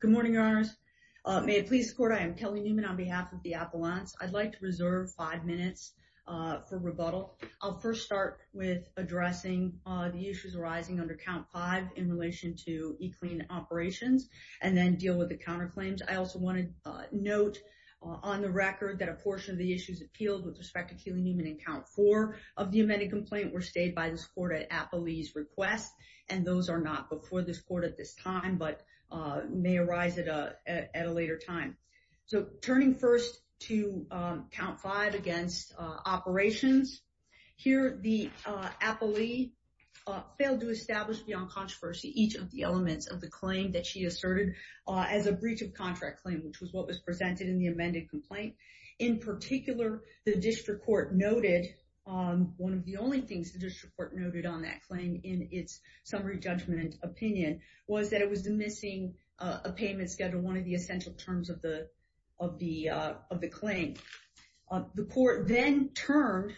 Good morning, Your Honors. May it please the Court, I am Kelly Newman on behalf of the Appellants. I'd like to reserve five minutes for rebuttal. I'll first start with addressing the issues arising under Count 5 in relation to E-Clean operations and then deal with the counterclaims. I also want to note on the record that a portion of the issues appealed with respect to Keely Newman in Count 4 of the amended complaint were stayed by the Court at Appellee's request, and those are not before this Court at this time, but may arise at a later time. So turning first to Count 5 against operations, here the Appellee failed to establish beyond controversy each of the elements of the claim that she asserted as a breach of contract claim, which was what was presented in the amended complaint. In its summary judgment opinion was that it was the missing payment schedule, one of the essential terms of the claim. The Court then turned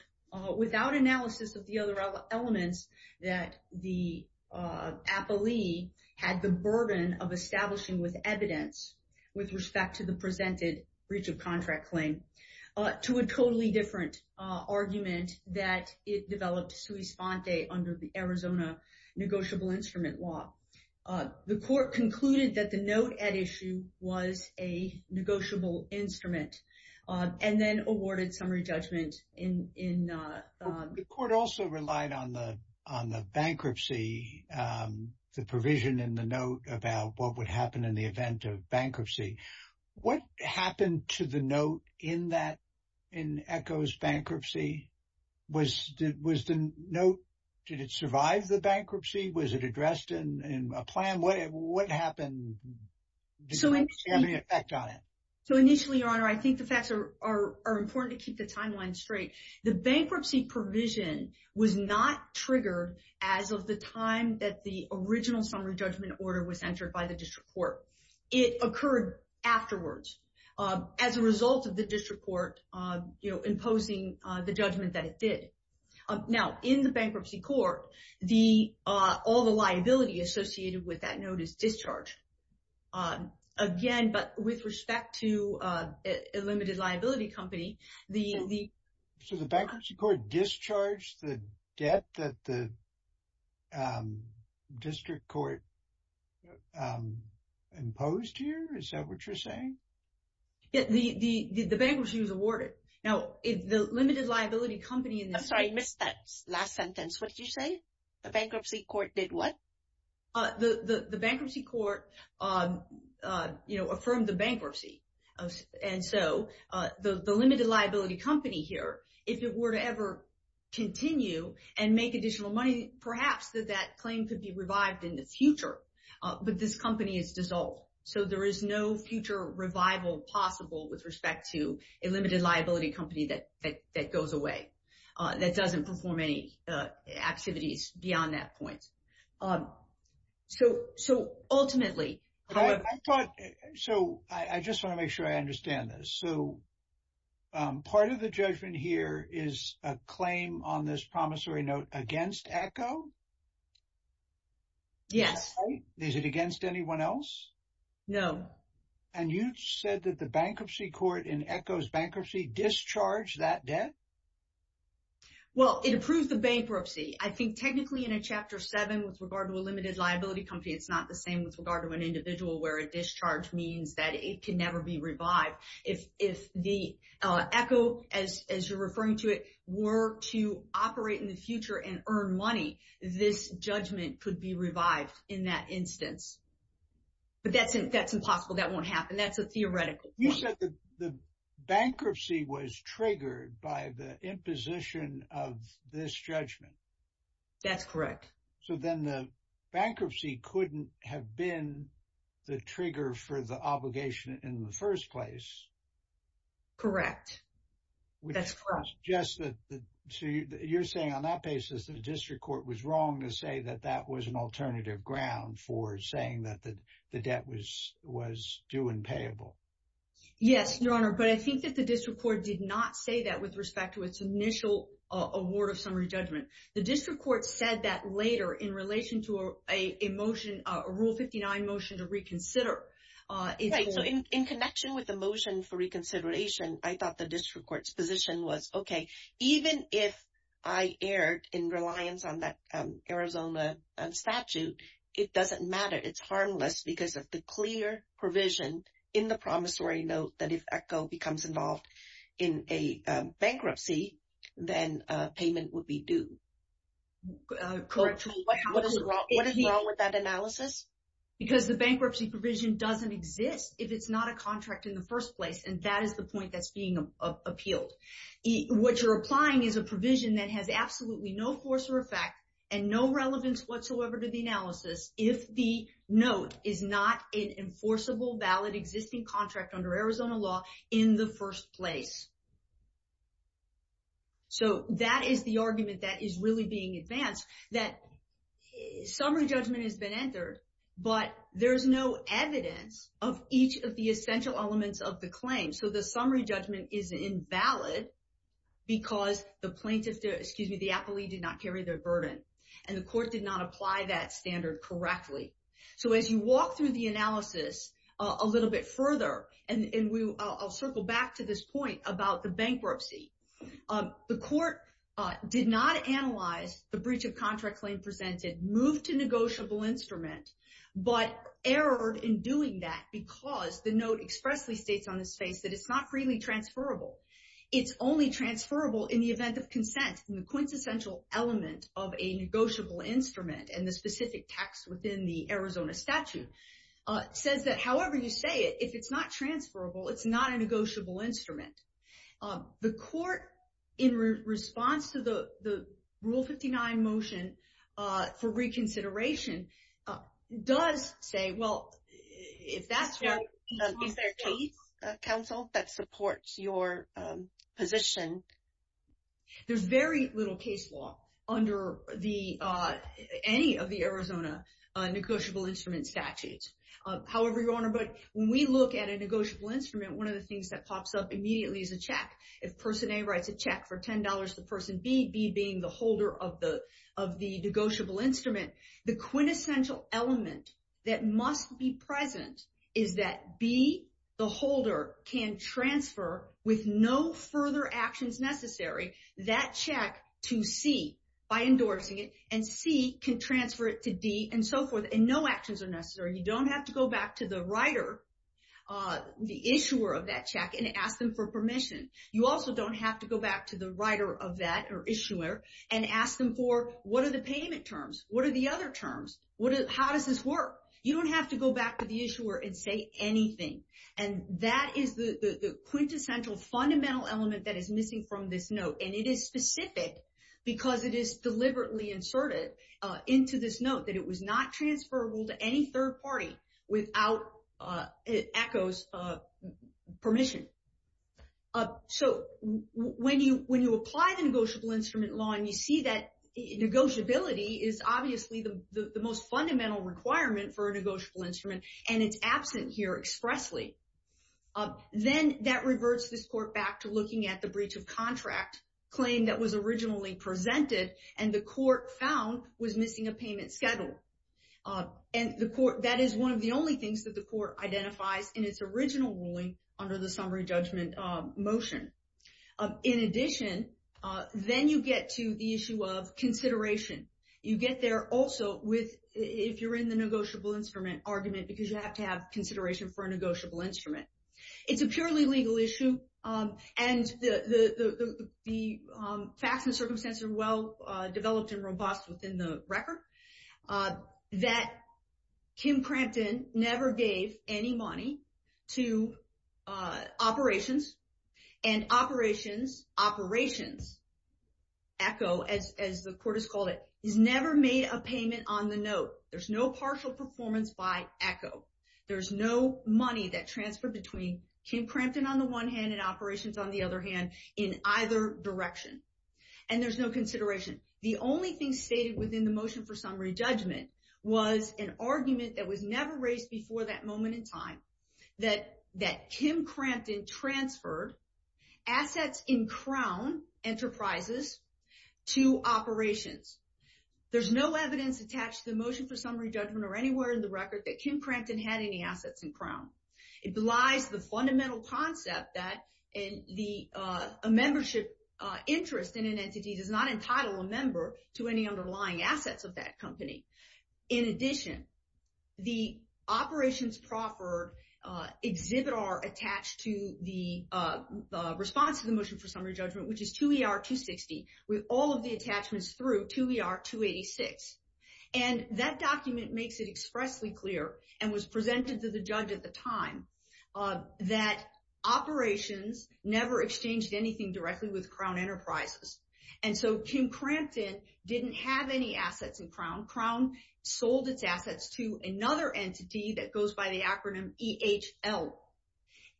without analysis of the other elements that the Appellee had the burden of establishing with evidence with respect to the presented breach of contract claim to a totally different argument that it developed sui sponte under the Arizona negotiable instrument law. The Court concluded that the note at issue was a negotiable instrument and then awarded summary judgment in... The Court also relied on the bankruptcy, the provision in the note about what would happen in the event of bankruptcy. What happened to the note in that, in ECHO's bankruptcy? Was the note, did it survive the bankruptcy? Was it addressed in a plan? What happened? Did it have any effect on it? So initially, Your Honor, I think the facts are important to keep the timeline straight. The bankruptcy provision was not triggered as of the time that the original summary judgment order was entered by the district court. It occurred afterwards as a result of the district court imposing the judgment that it did. Now, in the bankruptcy court, all the liability associated with that note is discharged. Again, but with respect to a limited liability company, the... Imposed here? Is that what you're saying? Yeah, the bankruptcy was awarded. Now, the limited liability company in this case... I'm sorry, I missed that last sentence. What did you say? The bankruptcy court did what? The bankruptcy court, you know, affirmed the bankruptcy. And so, the limited liability company here, if it were to ever continue and make additional money, perhaps that that claim could be revived in the future. But this company is dissolved. So there is no future revival possible with respect to a limited liability company that goes away, that doesn't perform any activities beyond that point. So ultimately... So I just want to make sure I understand this. So part of the judgment here is a claim on this Yes. Is it against anyone else? No. And you said that the bankruptcy court in Echo's bankruptcy discharged that debt? Well, it approved the bankruptcy. I think technically in a Chapter 7 with regard to a limited liability company, it's not the same with regard to an individual where a discharge means that it can never be revived. If the Echo, as you're referring to it, were to operate in future and earn money, this judgment could be revived in that instance. But that's impossible, that won't happen. That's a theoretical point. You said the bankruptcy was triggered by the imposition of this judgment? That's correct. So then the bankruptcy couldn't have been the trigger for the obligation in the first place? Correct. That's correct. Jess, you're saying on that basis that the district court was wrong to say that that was an alternative ground for saying that the debt was due and payable? Yes, Your Honor. But I think that the district court did not say that with respect to its initial award of summary judgment. The district court said that later in relation to a motion, a Rule 59 motion to reconsider. Right. So in connection with the motion for even if I erred in reliance on that Arizona statute, it doesn't matter. It's harmless because of the clear provision in the promissory note that if Echo becomes involved in a bankruptcy, then payment would be due. What is wrong with that analysis? Because the bankruptcy provision doesn't exist if it's not a contract in the first place. And that is the point that's being appealed. What you're applying is a provision that has absolutely no force or effect and no relevance whatsoever to the analysis if the note is not an enforceable, valid, existing contract under Arizona law in the first place. So that is the argument that is really being advanced that summary judgment has been entered, but there's no evidence of each of the essential elements of the claim. So the summary judgment is invalid because the plaintiff, excuse me, the appellee did not carry their burden. And the court did not apply that standard correctly. So as you walk through the analysis a little bit further, and I'll circle back to this point about the bankruptcy. The court did not analyze the breach of contract claim presented, moved to negotiable instrument, but erred in doing that because the note expressly states on its face that it's not freely transferable. It's only transferable in the event of consent. And the quintessential element of a negotiable instrument and the specific text within the Arizona statute says that however you say it, if it's not transferable, it's not a negotiable instrument. The court in response to the rule 59 motion for reconsideration does say, well, if that's what... Is there a case, counsel, that supports your position? There's very little case law under any of the Arizona negotiable instrument statutes. However, Your Honor, but when we look at a negotiable instrument, one of the things that immediately is a check. If person A writes a check for $10 to person B, B being the holder of the negotiable instrument, the quintessential element that must be present is that B, the holder, can transfer with no further actions necessary that check to C by endorsing it, and C can transfer it to D and so forth, and no actions are necessary. You don't have to go back to the writer, the issuer of that check and ask them for permission. You also don't have to go back to the writer of that or issuer and ask them for what are the payment terms? What are the other terms? How does this work? You don't have to go back to the issuer and say anything. And that is the quintessential fundamental element that is missing from this note. And it is specific because it is deliberately inserted into this note that it was not transferable to any third party without ECHO's permission. So when you apply the negotiable instrument law and you see that negotiability is obviously the most fundamental requirement for a negotiable instrument, and it's absent here expressly, then that reverts this court back to looking at the breach of contract claim that was originally presented, and the court found was missing a payment schedule. And that is one of the only things that the court identifies in its original ruling under the summary judgment motion. In addition, then you get to the issue of consideration. You get there also if you're in the negotiable instrument argument because you have to have consideration for a negotiable instrument. It's a purely legal issue, and the facts and that Kim Crampton never gave any money to operations, and operations, operations, ECHO, as the court has called it, has never made a payment on the note. There's no partial performance by ECHO. There's no money that transferred between Kim Crampton on the one hand and operations on the other hand in either direction. And there's no consideration. The only stated within the motion for summary judgment was an argument that was never raised before that moment in time that Kim Crampton transferred assets in Crown Enterprises to operations. There's no evidence attached to the motion for summary judgment or anywhere in the record that Kim Crampton had any assets in Crown. It belies the fundamental concept that a membership interest in an entity does not entitle a member to any underlying assets of that company. In addition, the operations proffered exhibit are attached to the response to the motion for summary judgment, which is 2ER-260 with all of the attachments through 2ER-286. And that document makes it expressly clear and was presented to the judge at the time that operations never exchanged anything directly with Crown Enterprises. And so Kim Crampton didn't have any assets in Crown. Crown sold its assets to another entity that goes by the acronym EHL.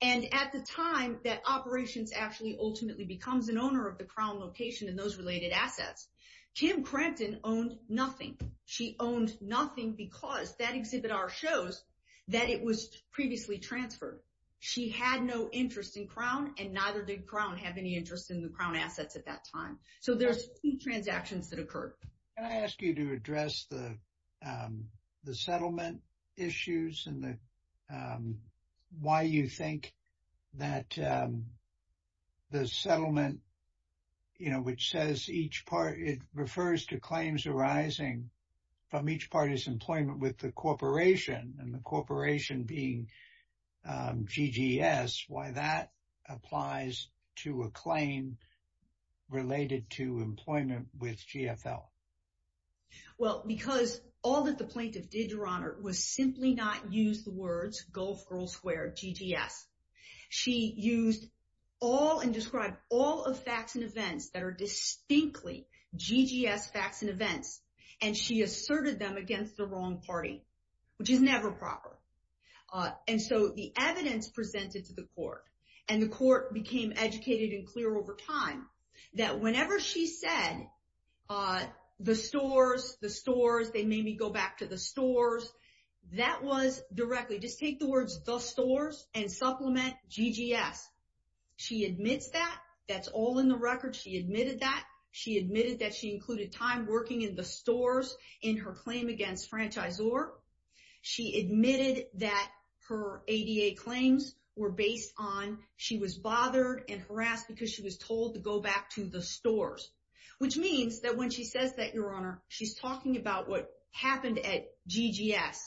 And at the time that operations actually ultimately becomes an owner of the Crown location and those related assets, Kim Crampton owned nothing. She owned nothing because that exhibit R shows that it was in the Crown assets at that time. So there's key transactions that occurred. Can I ask you to address the settlement issues and why you think that the settlement, you know, which says each part, it refers to claims arising from each party's employment with the corporation and the corporation being GGS, why that applies to a claim related to employment with GFL? Well, because all that the plaintiff did, Your Honor, was simply not use the words Gulf Girls Square GGS. She used all and described all of facts and events that are distinctly GGS facts and events. And she asserted them against the wrong party, which is never proper. And so the evidence presented to the court and the court became educated and clear over time that whenever she said, the stores, the stores, they made me go back to the stores. That was directly, just take the words, the stores and supplement GGS. She admits that that's all in the record. She admitted that. She admitted that she included time working in the stores in her claim against franchisor. She admitted that her ADA claims were based on, she was bothered and harassed because she was told to go back to the stores, which means that when she says that, Your Honor, she's talking about what happened at GGS.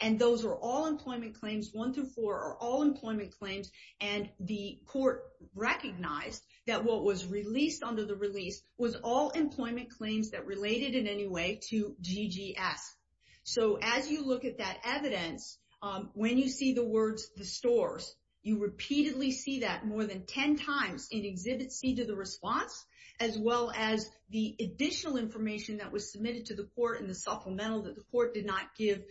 And those are all employment claims. One through four are all employment claims. And the court recognized that what was released under the release was all employment claims that related in any way to GGS. So as you look at that evidence, when you see the words, the stores, you repeatedly see that more than 10 times in exhibit C to the response, as well as the additional information that was submitted to the court and the supplemental that the court did not give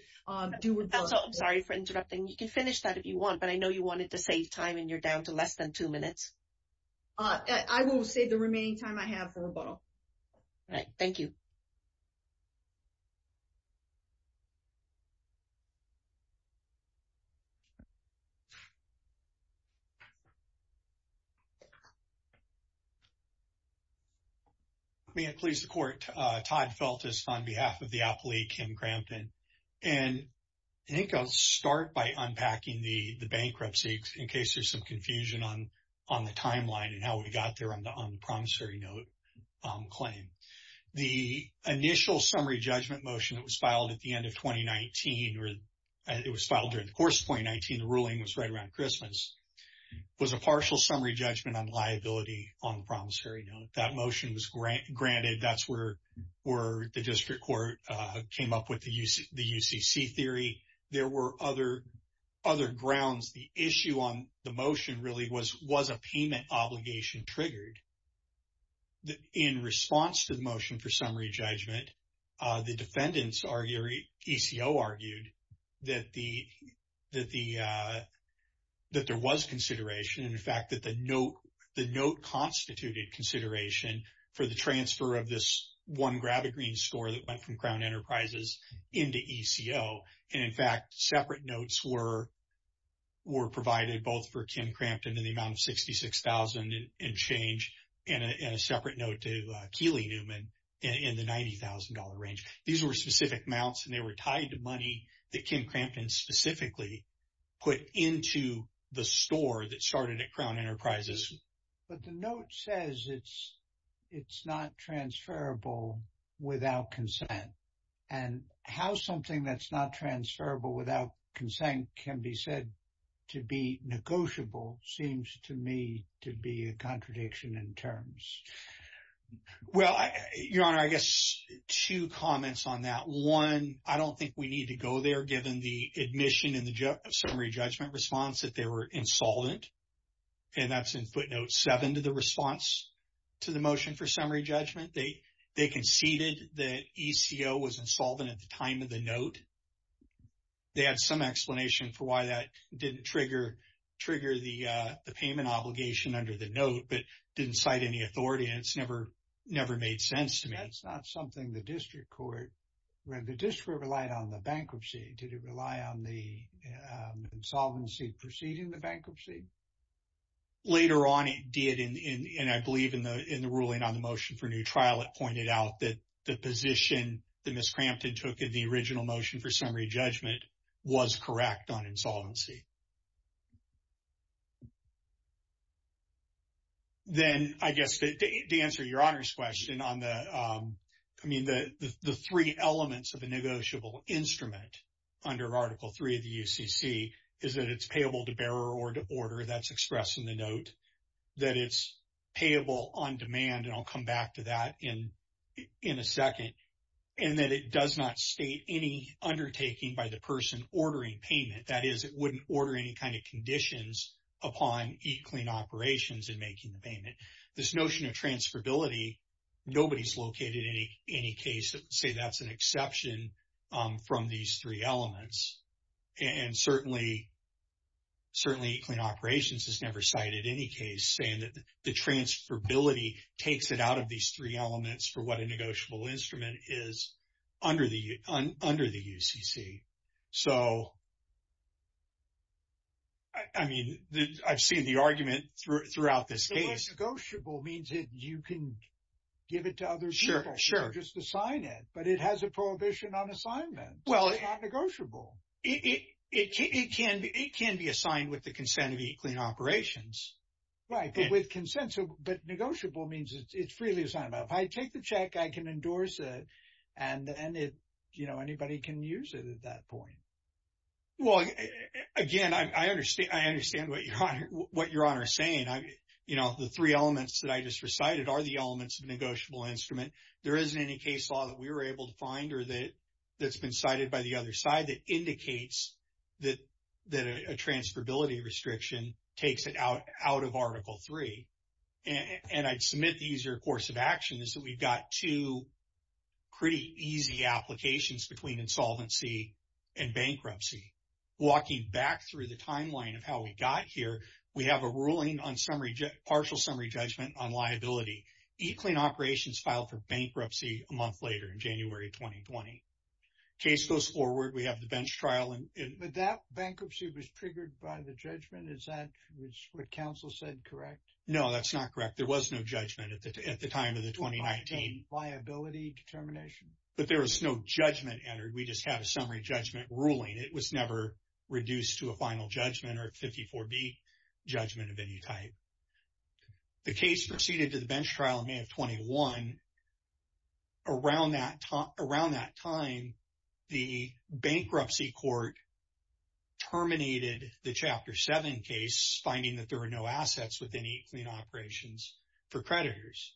due rebuttal. I'm sorry for interrupting. You can finish that if you want, but I know you to save time and you're down to less than two minutes. I will save the remaining time I have for rebuttal. All right. Thank you. May it please the court. Todd Feltis on behalf of the appellee, Kim Crampton. And I think I'll start by unpacking the bankruptcy in case there's some confusion on the timeline and how we got there on the promissory note claim. The initial summary judgment motion that was filed at the end of 2019, it was filed during the course of 2019, the ruling was right around Christmas, was a partial summary judgment on liability on the promissory note. That motion was granted. That's where the district court came up with the UCC theory. There were other grounds. The issue on the motion really was, was a payment obligation triggered. In response to the motion for summary judgment, the defendants or ECO argued that there was consideration. In fact, that the note constituted consideration for the transfer of this one Gravigreen store that went from Crown Enterprises into ECO. And in fact, separate notes were provided both for Kim Crampton in the amount of 66,000 and change in a separate note to Keely Newman in the $90,000 range. These were specific amounts and they were tied to money that Kim Crampton specifically put into the store that started at Crown Enterprises. But the note says it's not transferable without consent. And how something that's not transferable without consent can be said to be negotiable seems to me to be a contradiction in terms. Well, Your Honor, I guess two comments on that. One, I don't think we need to go there given the admission in the summary judgment response that they were insolvent. And that's in footnote seven to the response to the motion for summary judgment. They conceded that ECO was insolvent at the time of the note. They had some explanation for why that didn't trigger the payment obligation under the note, but didn't cite any authority. And it's never made sense to me. That's not something the district court read. The district relied on the bankruptcy. Did it rely on the insolvency preceding the bankruptcy? Later on, it did. And I believe in the ruling on the motion for new trial, it pointed out that the position that Ms. Crampton took in the original motion for summary judgment was correct on insolvency. Then I guess to answer Your Honor's question on the, I mean, the three elements of a negotiable instrument under Article III of the UCC is that it's payable to bearer or to order, that's expressed in the note, that it's payable on demand, and I'll come back to that in a second, and that it does not state any undertaking by the person ordering payment. That is, it wouldn't order any kind of conditions upon E-Clean Operations in making the payment. This notion of transferability, nobody's located in any case that would say that's an exception from these three elements. And certainly, E-Clean Operations has never cited any case saying that transferability takes it out of these three elements for what a negotiable instrument is under the UCC. So, I mean, I've seen the argument throughout this case. So, what's negotiable means that you can give it to other people or just assign it, but it has a prohibition on assignment. It's not negotiable. It can be assigned with the consent of E-Clean Operations. Right, but with consent. But negotiable means it's freely assigned. If I take the check, I can endorse it, and anybody can use it at that point. Well, again, I understand what Your Honor is saying. The three elements that I just recited are the elements of negotiable instrument. There isn't any case law that we were able to find or that's been cited by the other side that indicates that a transferability restriction takes it out of Article III. And I'd submit the easier course of action is that we've got two pretty easy applications between insolvency and bankruptcy. Walking back through the timeline of how we got here, we have a ruling on partial summary judgment on liability. E-Clean Operations filed for bankruptcy a month later in January 2020. Case goes forward. We have the bench trial. But that bankruptcy was triggered by the judgment. Is that what counsel said correct? No, that's not correct. There was no judgment at the time of the 2019. Liability determination? But there was no judgment entered. We just had a summary judgment ruling. It was never reduced to a final judgment or a 54B judgment of any type. The case proceeded to the bench trial in May of 21. Around that time, the bankruptcy court terminated the Chapter 7 case, finding that there were no assets within E-Clean Operations for creditors.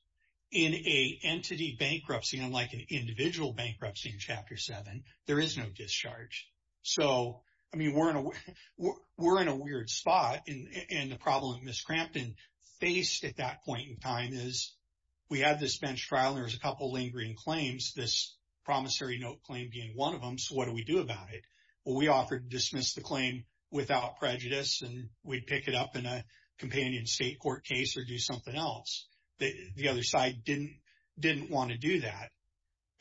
In a entity bankruptcy, unlike an individual bankruptcy in Chapter 7, there is no discharge. So, I mean, we're in a weird spot. And the problem that Ms. Crampton faced at that point in time is we have this bench trial and there's a couple lingering claims, this promissory note claim being one of them. So, what do we do about it? Well, we offered to dismiss the claim without prejudice and we'd pick it up in a companion state court case or do something else. The other side didn't want to do that.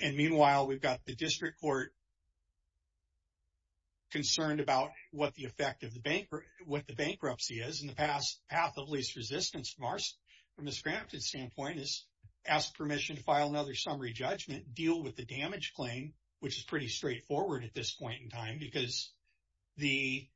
And meanwhile, we've got the district court concerned about what the effect of the bank, what the bankruptcy is. In the past, path of least resistance from Ms. Crampton's standpoint is ask permission to file another summary judgment deal with the damage claim, which is pretty straightforward at this point in time because the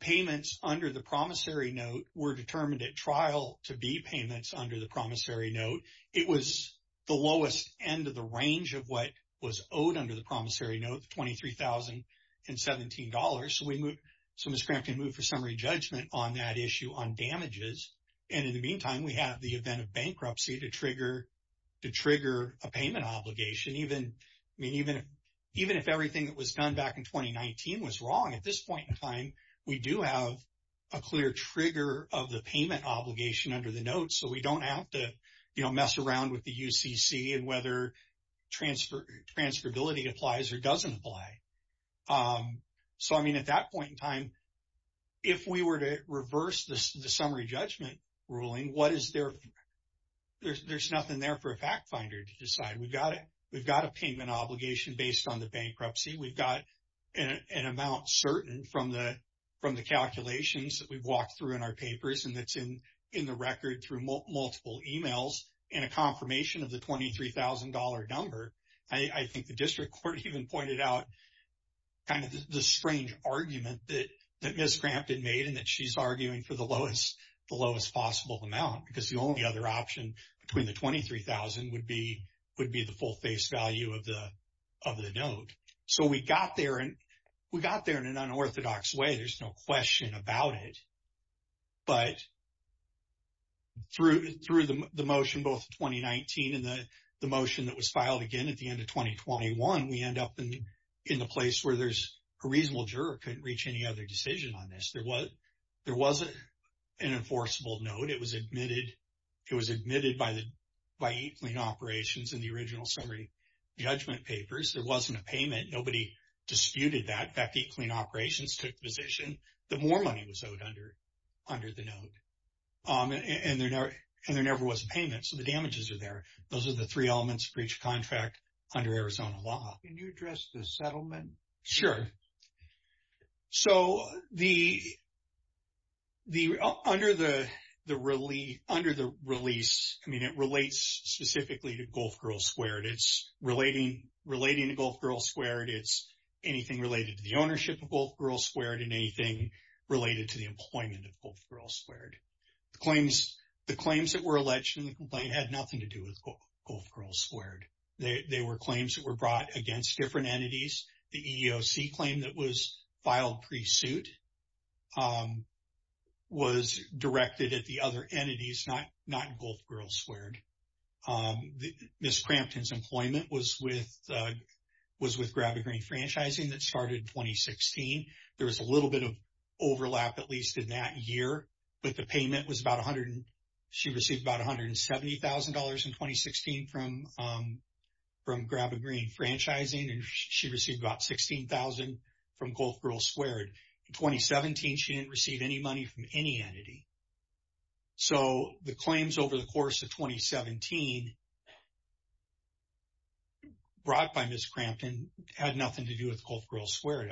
payments under the promissory note were determined at trial to be payments under the promissory note. It was the lowest end of the range of what was owed under the promissory note, $23,017. So, Ms. Crampton moved for summary judgment on that issue on damages. And in the obligation, even if everything that was done back in 2019 was wrong, at this point in time, we do have a clear trigger of the payment obligation under the note. So, we don't have to mess around with the UCC and whether transferability applies or doesn't apply. So, I mean, at that point in time, if we were to reverse the summary judgment ruling, what is there? There's nothing there for a fact finder to decide. We've got a payment obligation based on the bankruptcy. We've got an amount certain from the calculations that we've walked through in our papers and that's in the record through multiple emails and a confirmation of the $23,000 number. I think the district court even pointed out kind of the strange argument that Ms. Crampton made and that she's arguing for the lowest possible amount, because the only other option between the $23,000 would be the full face value of the note. So, we got there and we got there in an unorthodox way. There's no question about it. But through the motion, both 2019 and the motion that was filed again at the end of 2021, we end up in the place where there's a reasonable juror couldn't reach any other decision on this. There wasn't an enforceable note. It was admitted by Eat Clean Operations in the original summary judgment papers. There wasn't a payment. Nobody disputed that. In fact, Eat Clean Operations took the position that more money was owed under the note. And there never was payment. So, the damages are there. Those are the three elements for each contract under Arizona law. Can you address the settlement? Sure. So, under the release, I mean, it relates specifically to Gulf Girl Squared. It's relating to Gulf Girl Squared. It's anything related to the ownership of Gulf Girl Squared and anything related to the employment of Gulf Girl Squared. The claims that were alleged in the complaint had nothing to do with claims that were brought against different entities. The EEOC claim that was filed pre-suit was directed at the other entities, not Gulf Girl Squared. Ms. Crampton's employment was with Gravity Green Franchising that started in 2016. There was a little bit of overlap, at least in that year. But the payment was about $170,000 in 2016 from Gravity Green Franchising. And she received about $16,000 from Gulf Girl Squared. In 2017, she didn't receive any money from any entity. So, the claims over the course of 2017 brought by Ms. Crampton had nothing to do with Gulf Girl Squared,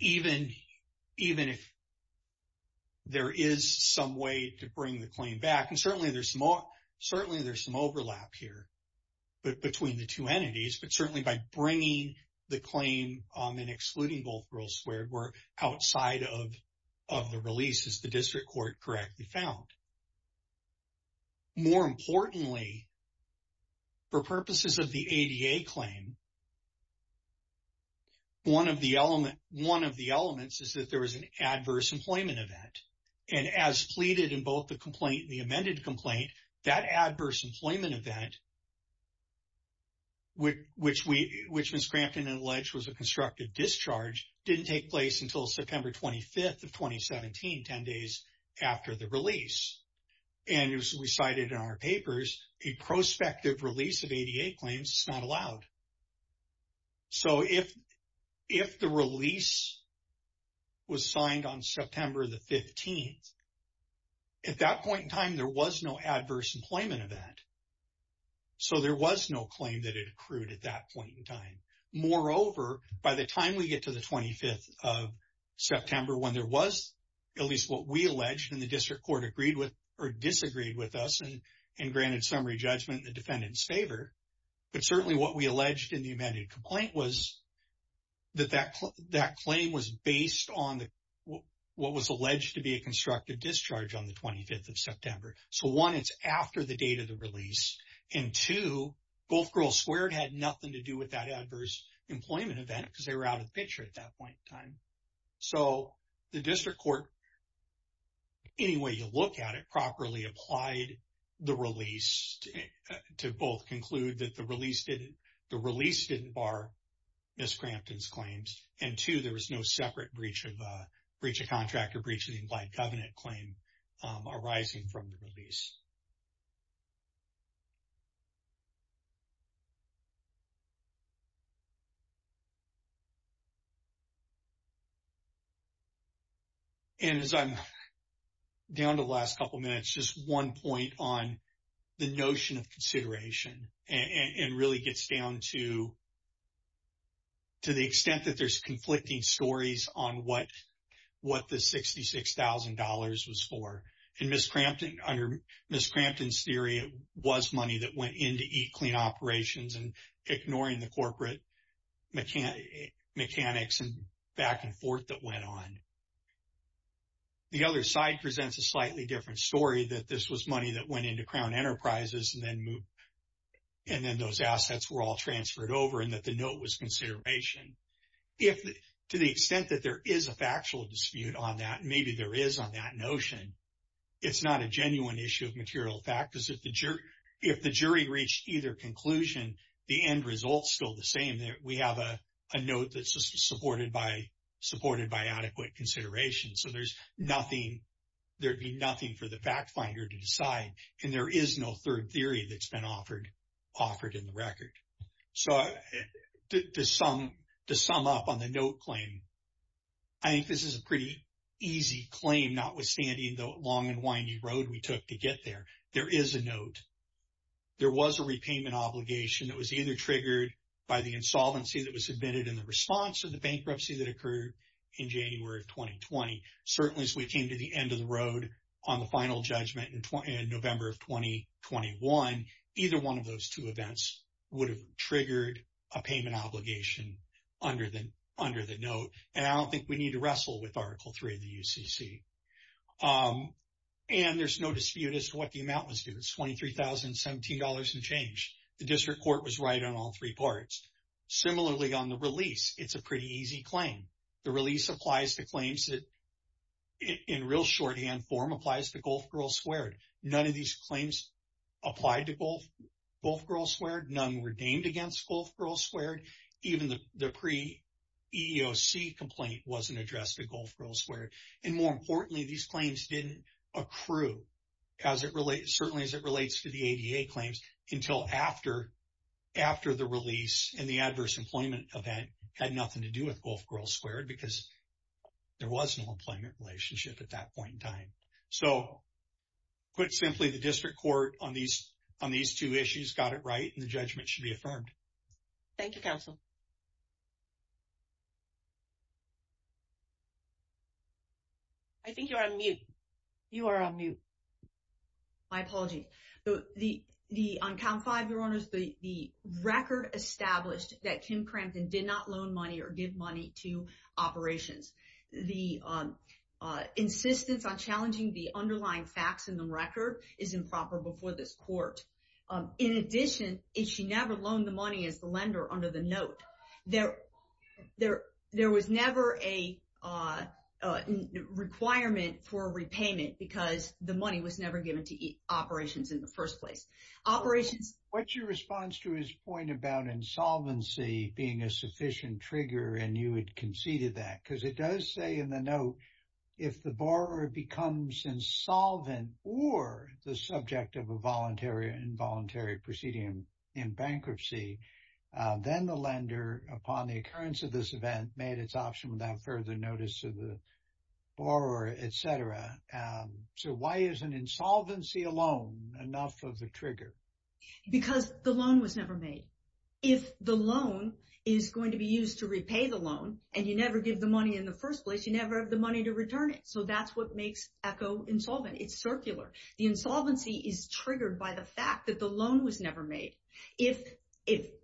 even if there is some way to bring the claim back. And certainly, there's some overlap here between the two entities. But certainly, by bringing the claim and excluding Gulf Girl Squared were outside of the release, as the district court correctly found. But more importantly, for purposes of the ADA claim, one of the elements is that there was an adverse employment event. And as pleaded in both the complaint, the amended complaint, that adverse employment event, which Ms. Crampton alleged was a constructive discharge, didn't take place until September 25th of 2017, 10 days after the release. And as we cited in our papers, a prospective release of ADA claims is not allowed. So, if the release was signed on September the 15th, at that point in time, there was no adverse employment event. So, there was no claim that accrued at that point in time. Moreover, by the time we get to the 25th of September, when there was at least what we alleged and the district court agreed with or disagreed with us and granted summary judgment in the defendant's favor, but certainly what we alleged in the amended complaint was that that claim was based on what was alleged to be a constructive discharge on the 25th of had nothing to do with that adverse employment event because they were out of the picture at that point in time. So, the district court, any way you look at it, properly applied the release to both conclude that the release didn't bar Ms. Crampton's claims, and two, there was no separate breach of contract or breach of the implied covenant claim arising from the release. And as I'm down to the last couple of minutes, just one point on the notion of consideration and really gets down to the extent that there's conflicting stories on what the $66,000 was for. And under Ms. Crampton's theory, it was money that went into E-Clean Operations and ignoring the corporate mechanics and back and forth that went on. The other side presents a slightly different story that this was money that went into Crown Enterprises and then those assets were all transferred over and that the note was consideration. To the extent that there is a factual dispute on that, maybe there is on that it's not a genuine issue of material factors. If the jury reached either conclusion, the end result's still the same. We have a note that's just supported by adequate consideration. So, there'd be nothing for the fact finder to decide and there is no third theory that's been offered in the record. So, to sum up on the note claim, I think this is a pretty easy claim, notwithstanding the long and windy road we took to get there. There is a note. There was a repayment obligation that was either triggered by the insolvency that was submitted in the response to the bankruptcy that occurred in January of 2020. Certainly, as we came to the end of the road on the final judgment in November of 2021, either one of those two events would have triggered a payment obligation under the note. And I don't think we need to wrestle with Article 3 of the Act. And there's no dispute as to what the amount was due. It's $23,017 and change. The district court was right on all three parts. Similarly, on the release, it's a pretty easy claim. The release applies to claims that in real shorthand form applies to Gulf Girl Squared. None of these claims applied to Gulf Girl Squared. None were named against Gulf Girl Squared. Even the pre-EEOC complaint wasn't addressed at Gulf Girl Squared. And more importantly, these claims didn't accrue, certainly as it relates to the ADA claims, until after the release and the adverse employment event had nothing to do with Gulf Girl Squared because there was no employment relationship at that point in time. So, put simply, the district court on these two issues got it right and the judgment should be affirmed. Thank you, counsel. I think you're on mute. You are on mute. My apologies. On count five, Your Honors, the record established that Kim Crampton did not loan money or give money to operations. The insistence on challenging the underlying facts in the record is improper before this court. In addition, she never loaned the money as the lender under the note. There was never a requirement for repayment because the money was never given to operations in the first place. Operations- What's your response to his point about insolvency being a sufficient trigger and you had conceded that? Because it does say in the note, if the borrower becomes insolvent or the subject of a voluntary or involuntary proceeding in bankruptcy, then the lender, upon the occurrence of this event, made its option without further notice to the borrower, et cetera. So, why is an insolvency alone enough of the trigger? Because the loan was never made. If the loan is going to be used to repay the loan and you never give the money in the first place, you never have the money to return it. So, that's what makes ECHO insolvent. It's circular. The insolvency is triggered by the fact that the loan was never made. If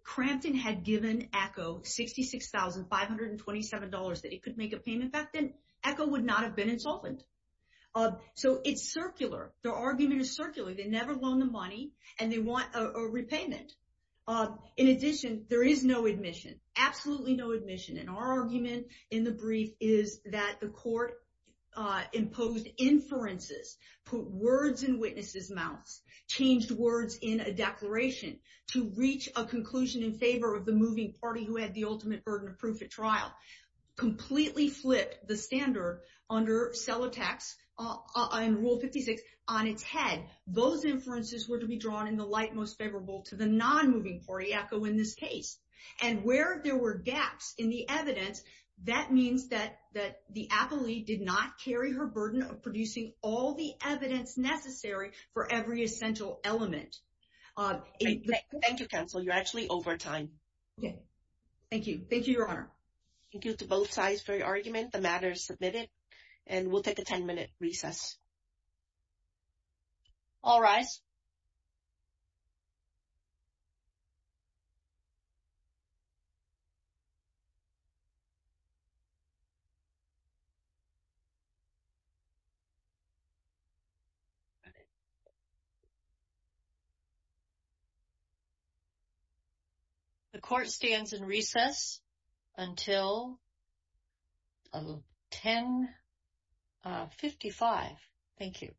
Crampton had given ECHO $66,527 that it could make a payment back, then ECHO would not have been insolvent. So, it's circular. Their argument is circular. They never loaned the money and they want a repayment. In addition, there is no admission, absolutely no admission. And our imposed inferences put words in witnesses' mouths, changed words in a declaration to reach a conclusion in favor of the moving party who had the ultimate burden of proof at trial, completely flipped the standard under cell attacks in Rule 56 on its head. Those inferences were to be drawn in the light most favorable to the non-moving party, ECHO in this case. And where there were gaps in the evidence, that means that the appellee did not carry her burden of producing all the evidence necessary for every essential element. Thank you, counsel. You're actually over time. Thank you. Thank you, Your Honor. Thank you to both sides for your argument. The matter is submitted. And we'll take a 10-minute recess. All rise. The court stands in recess until 1055. Thank you.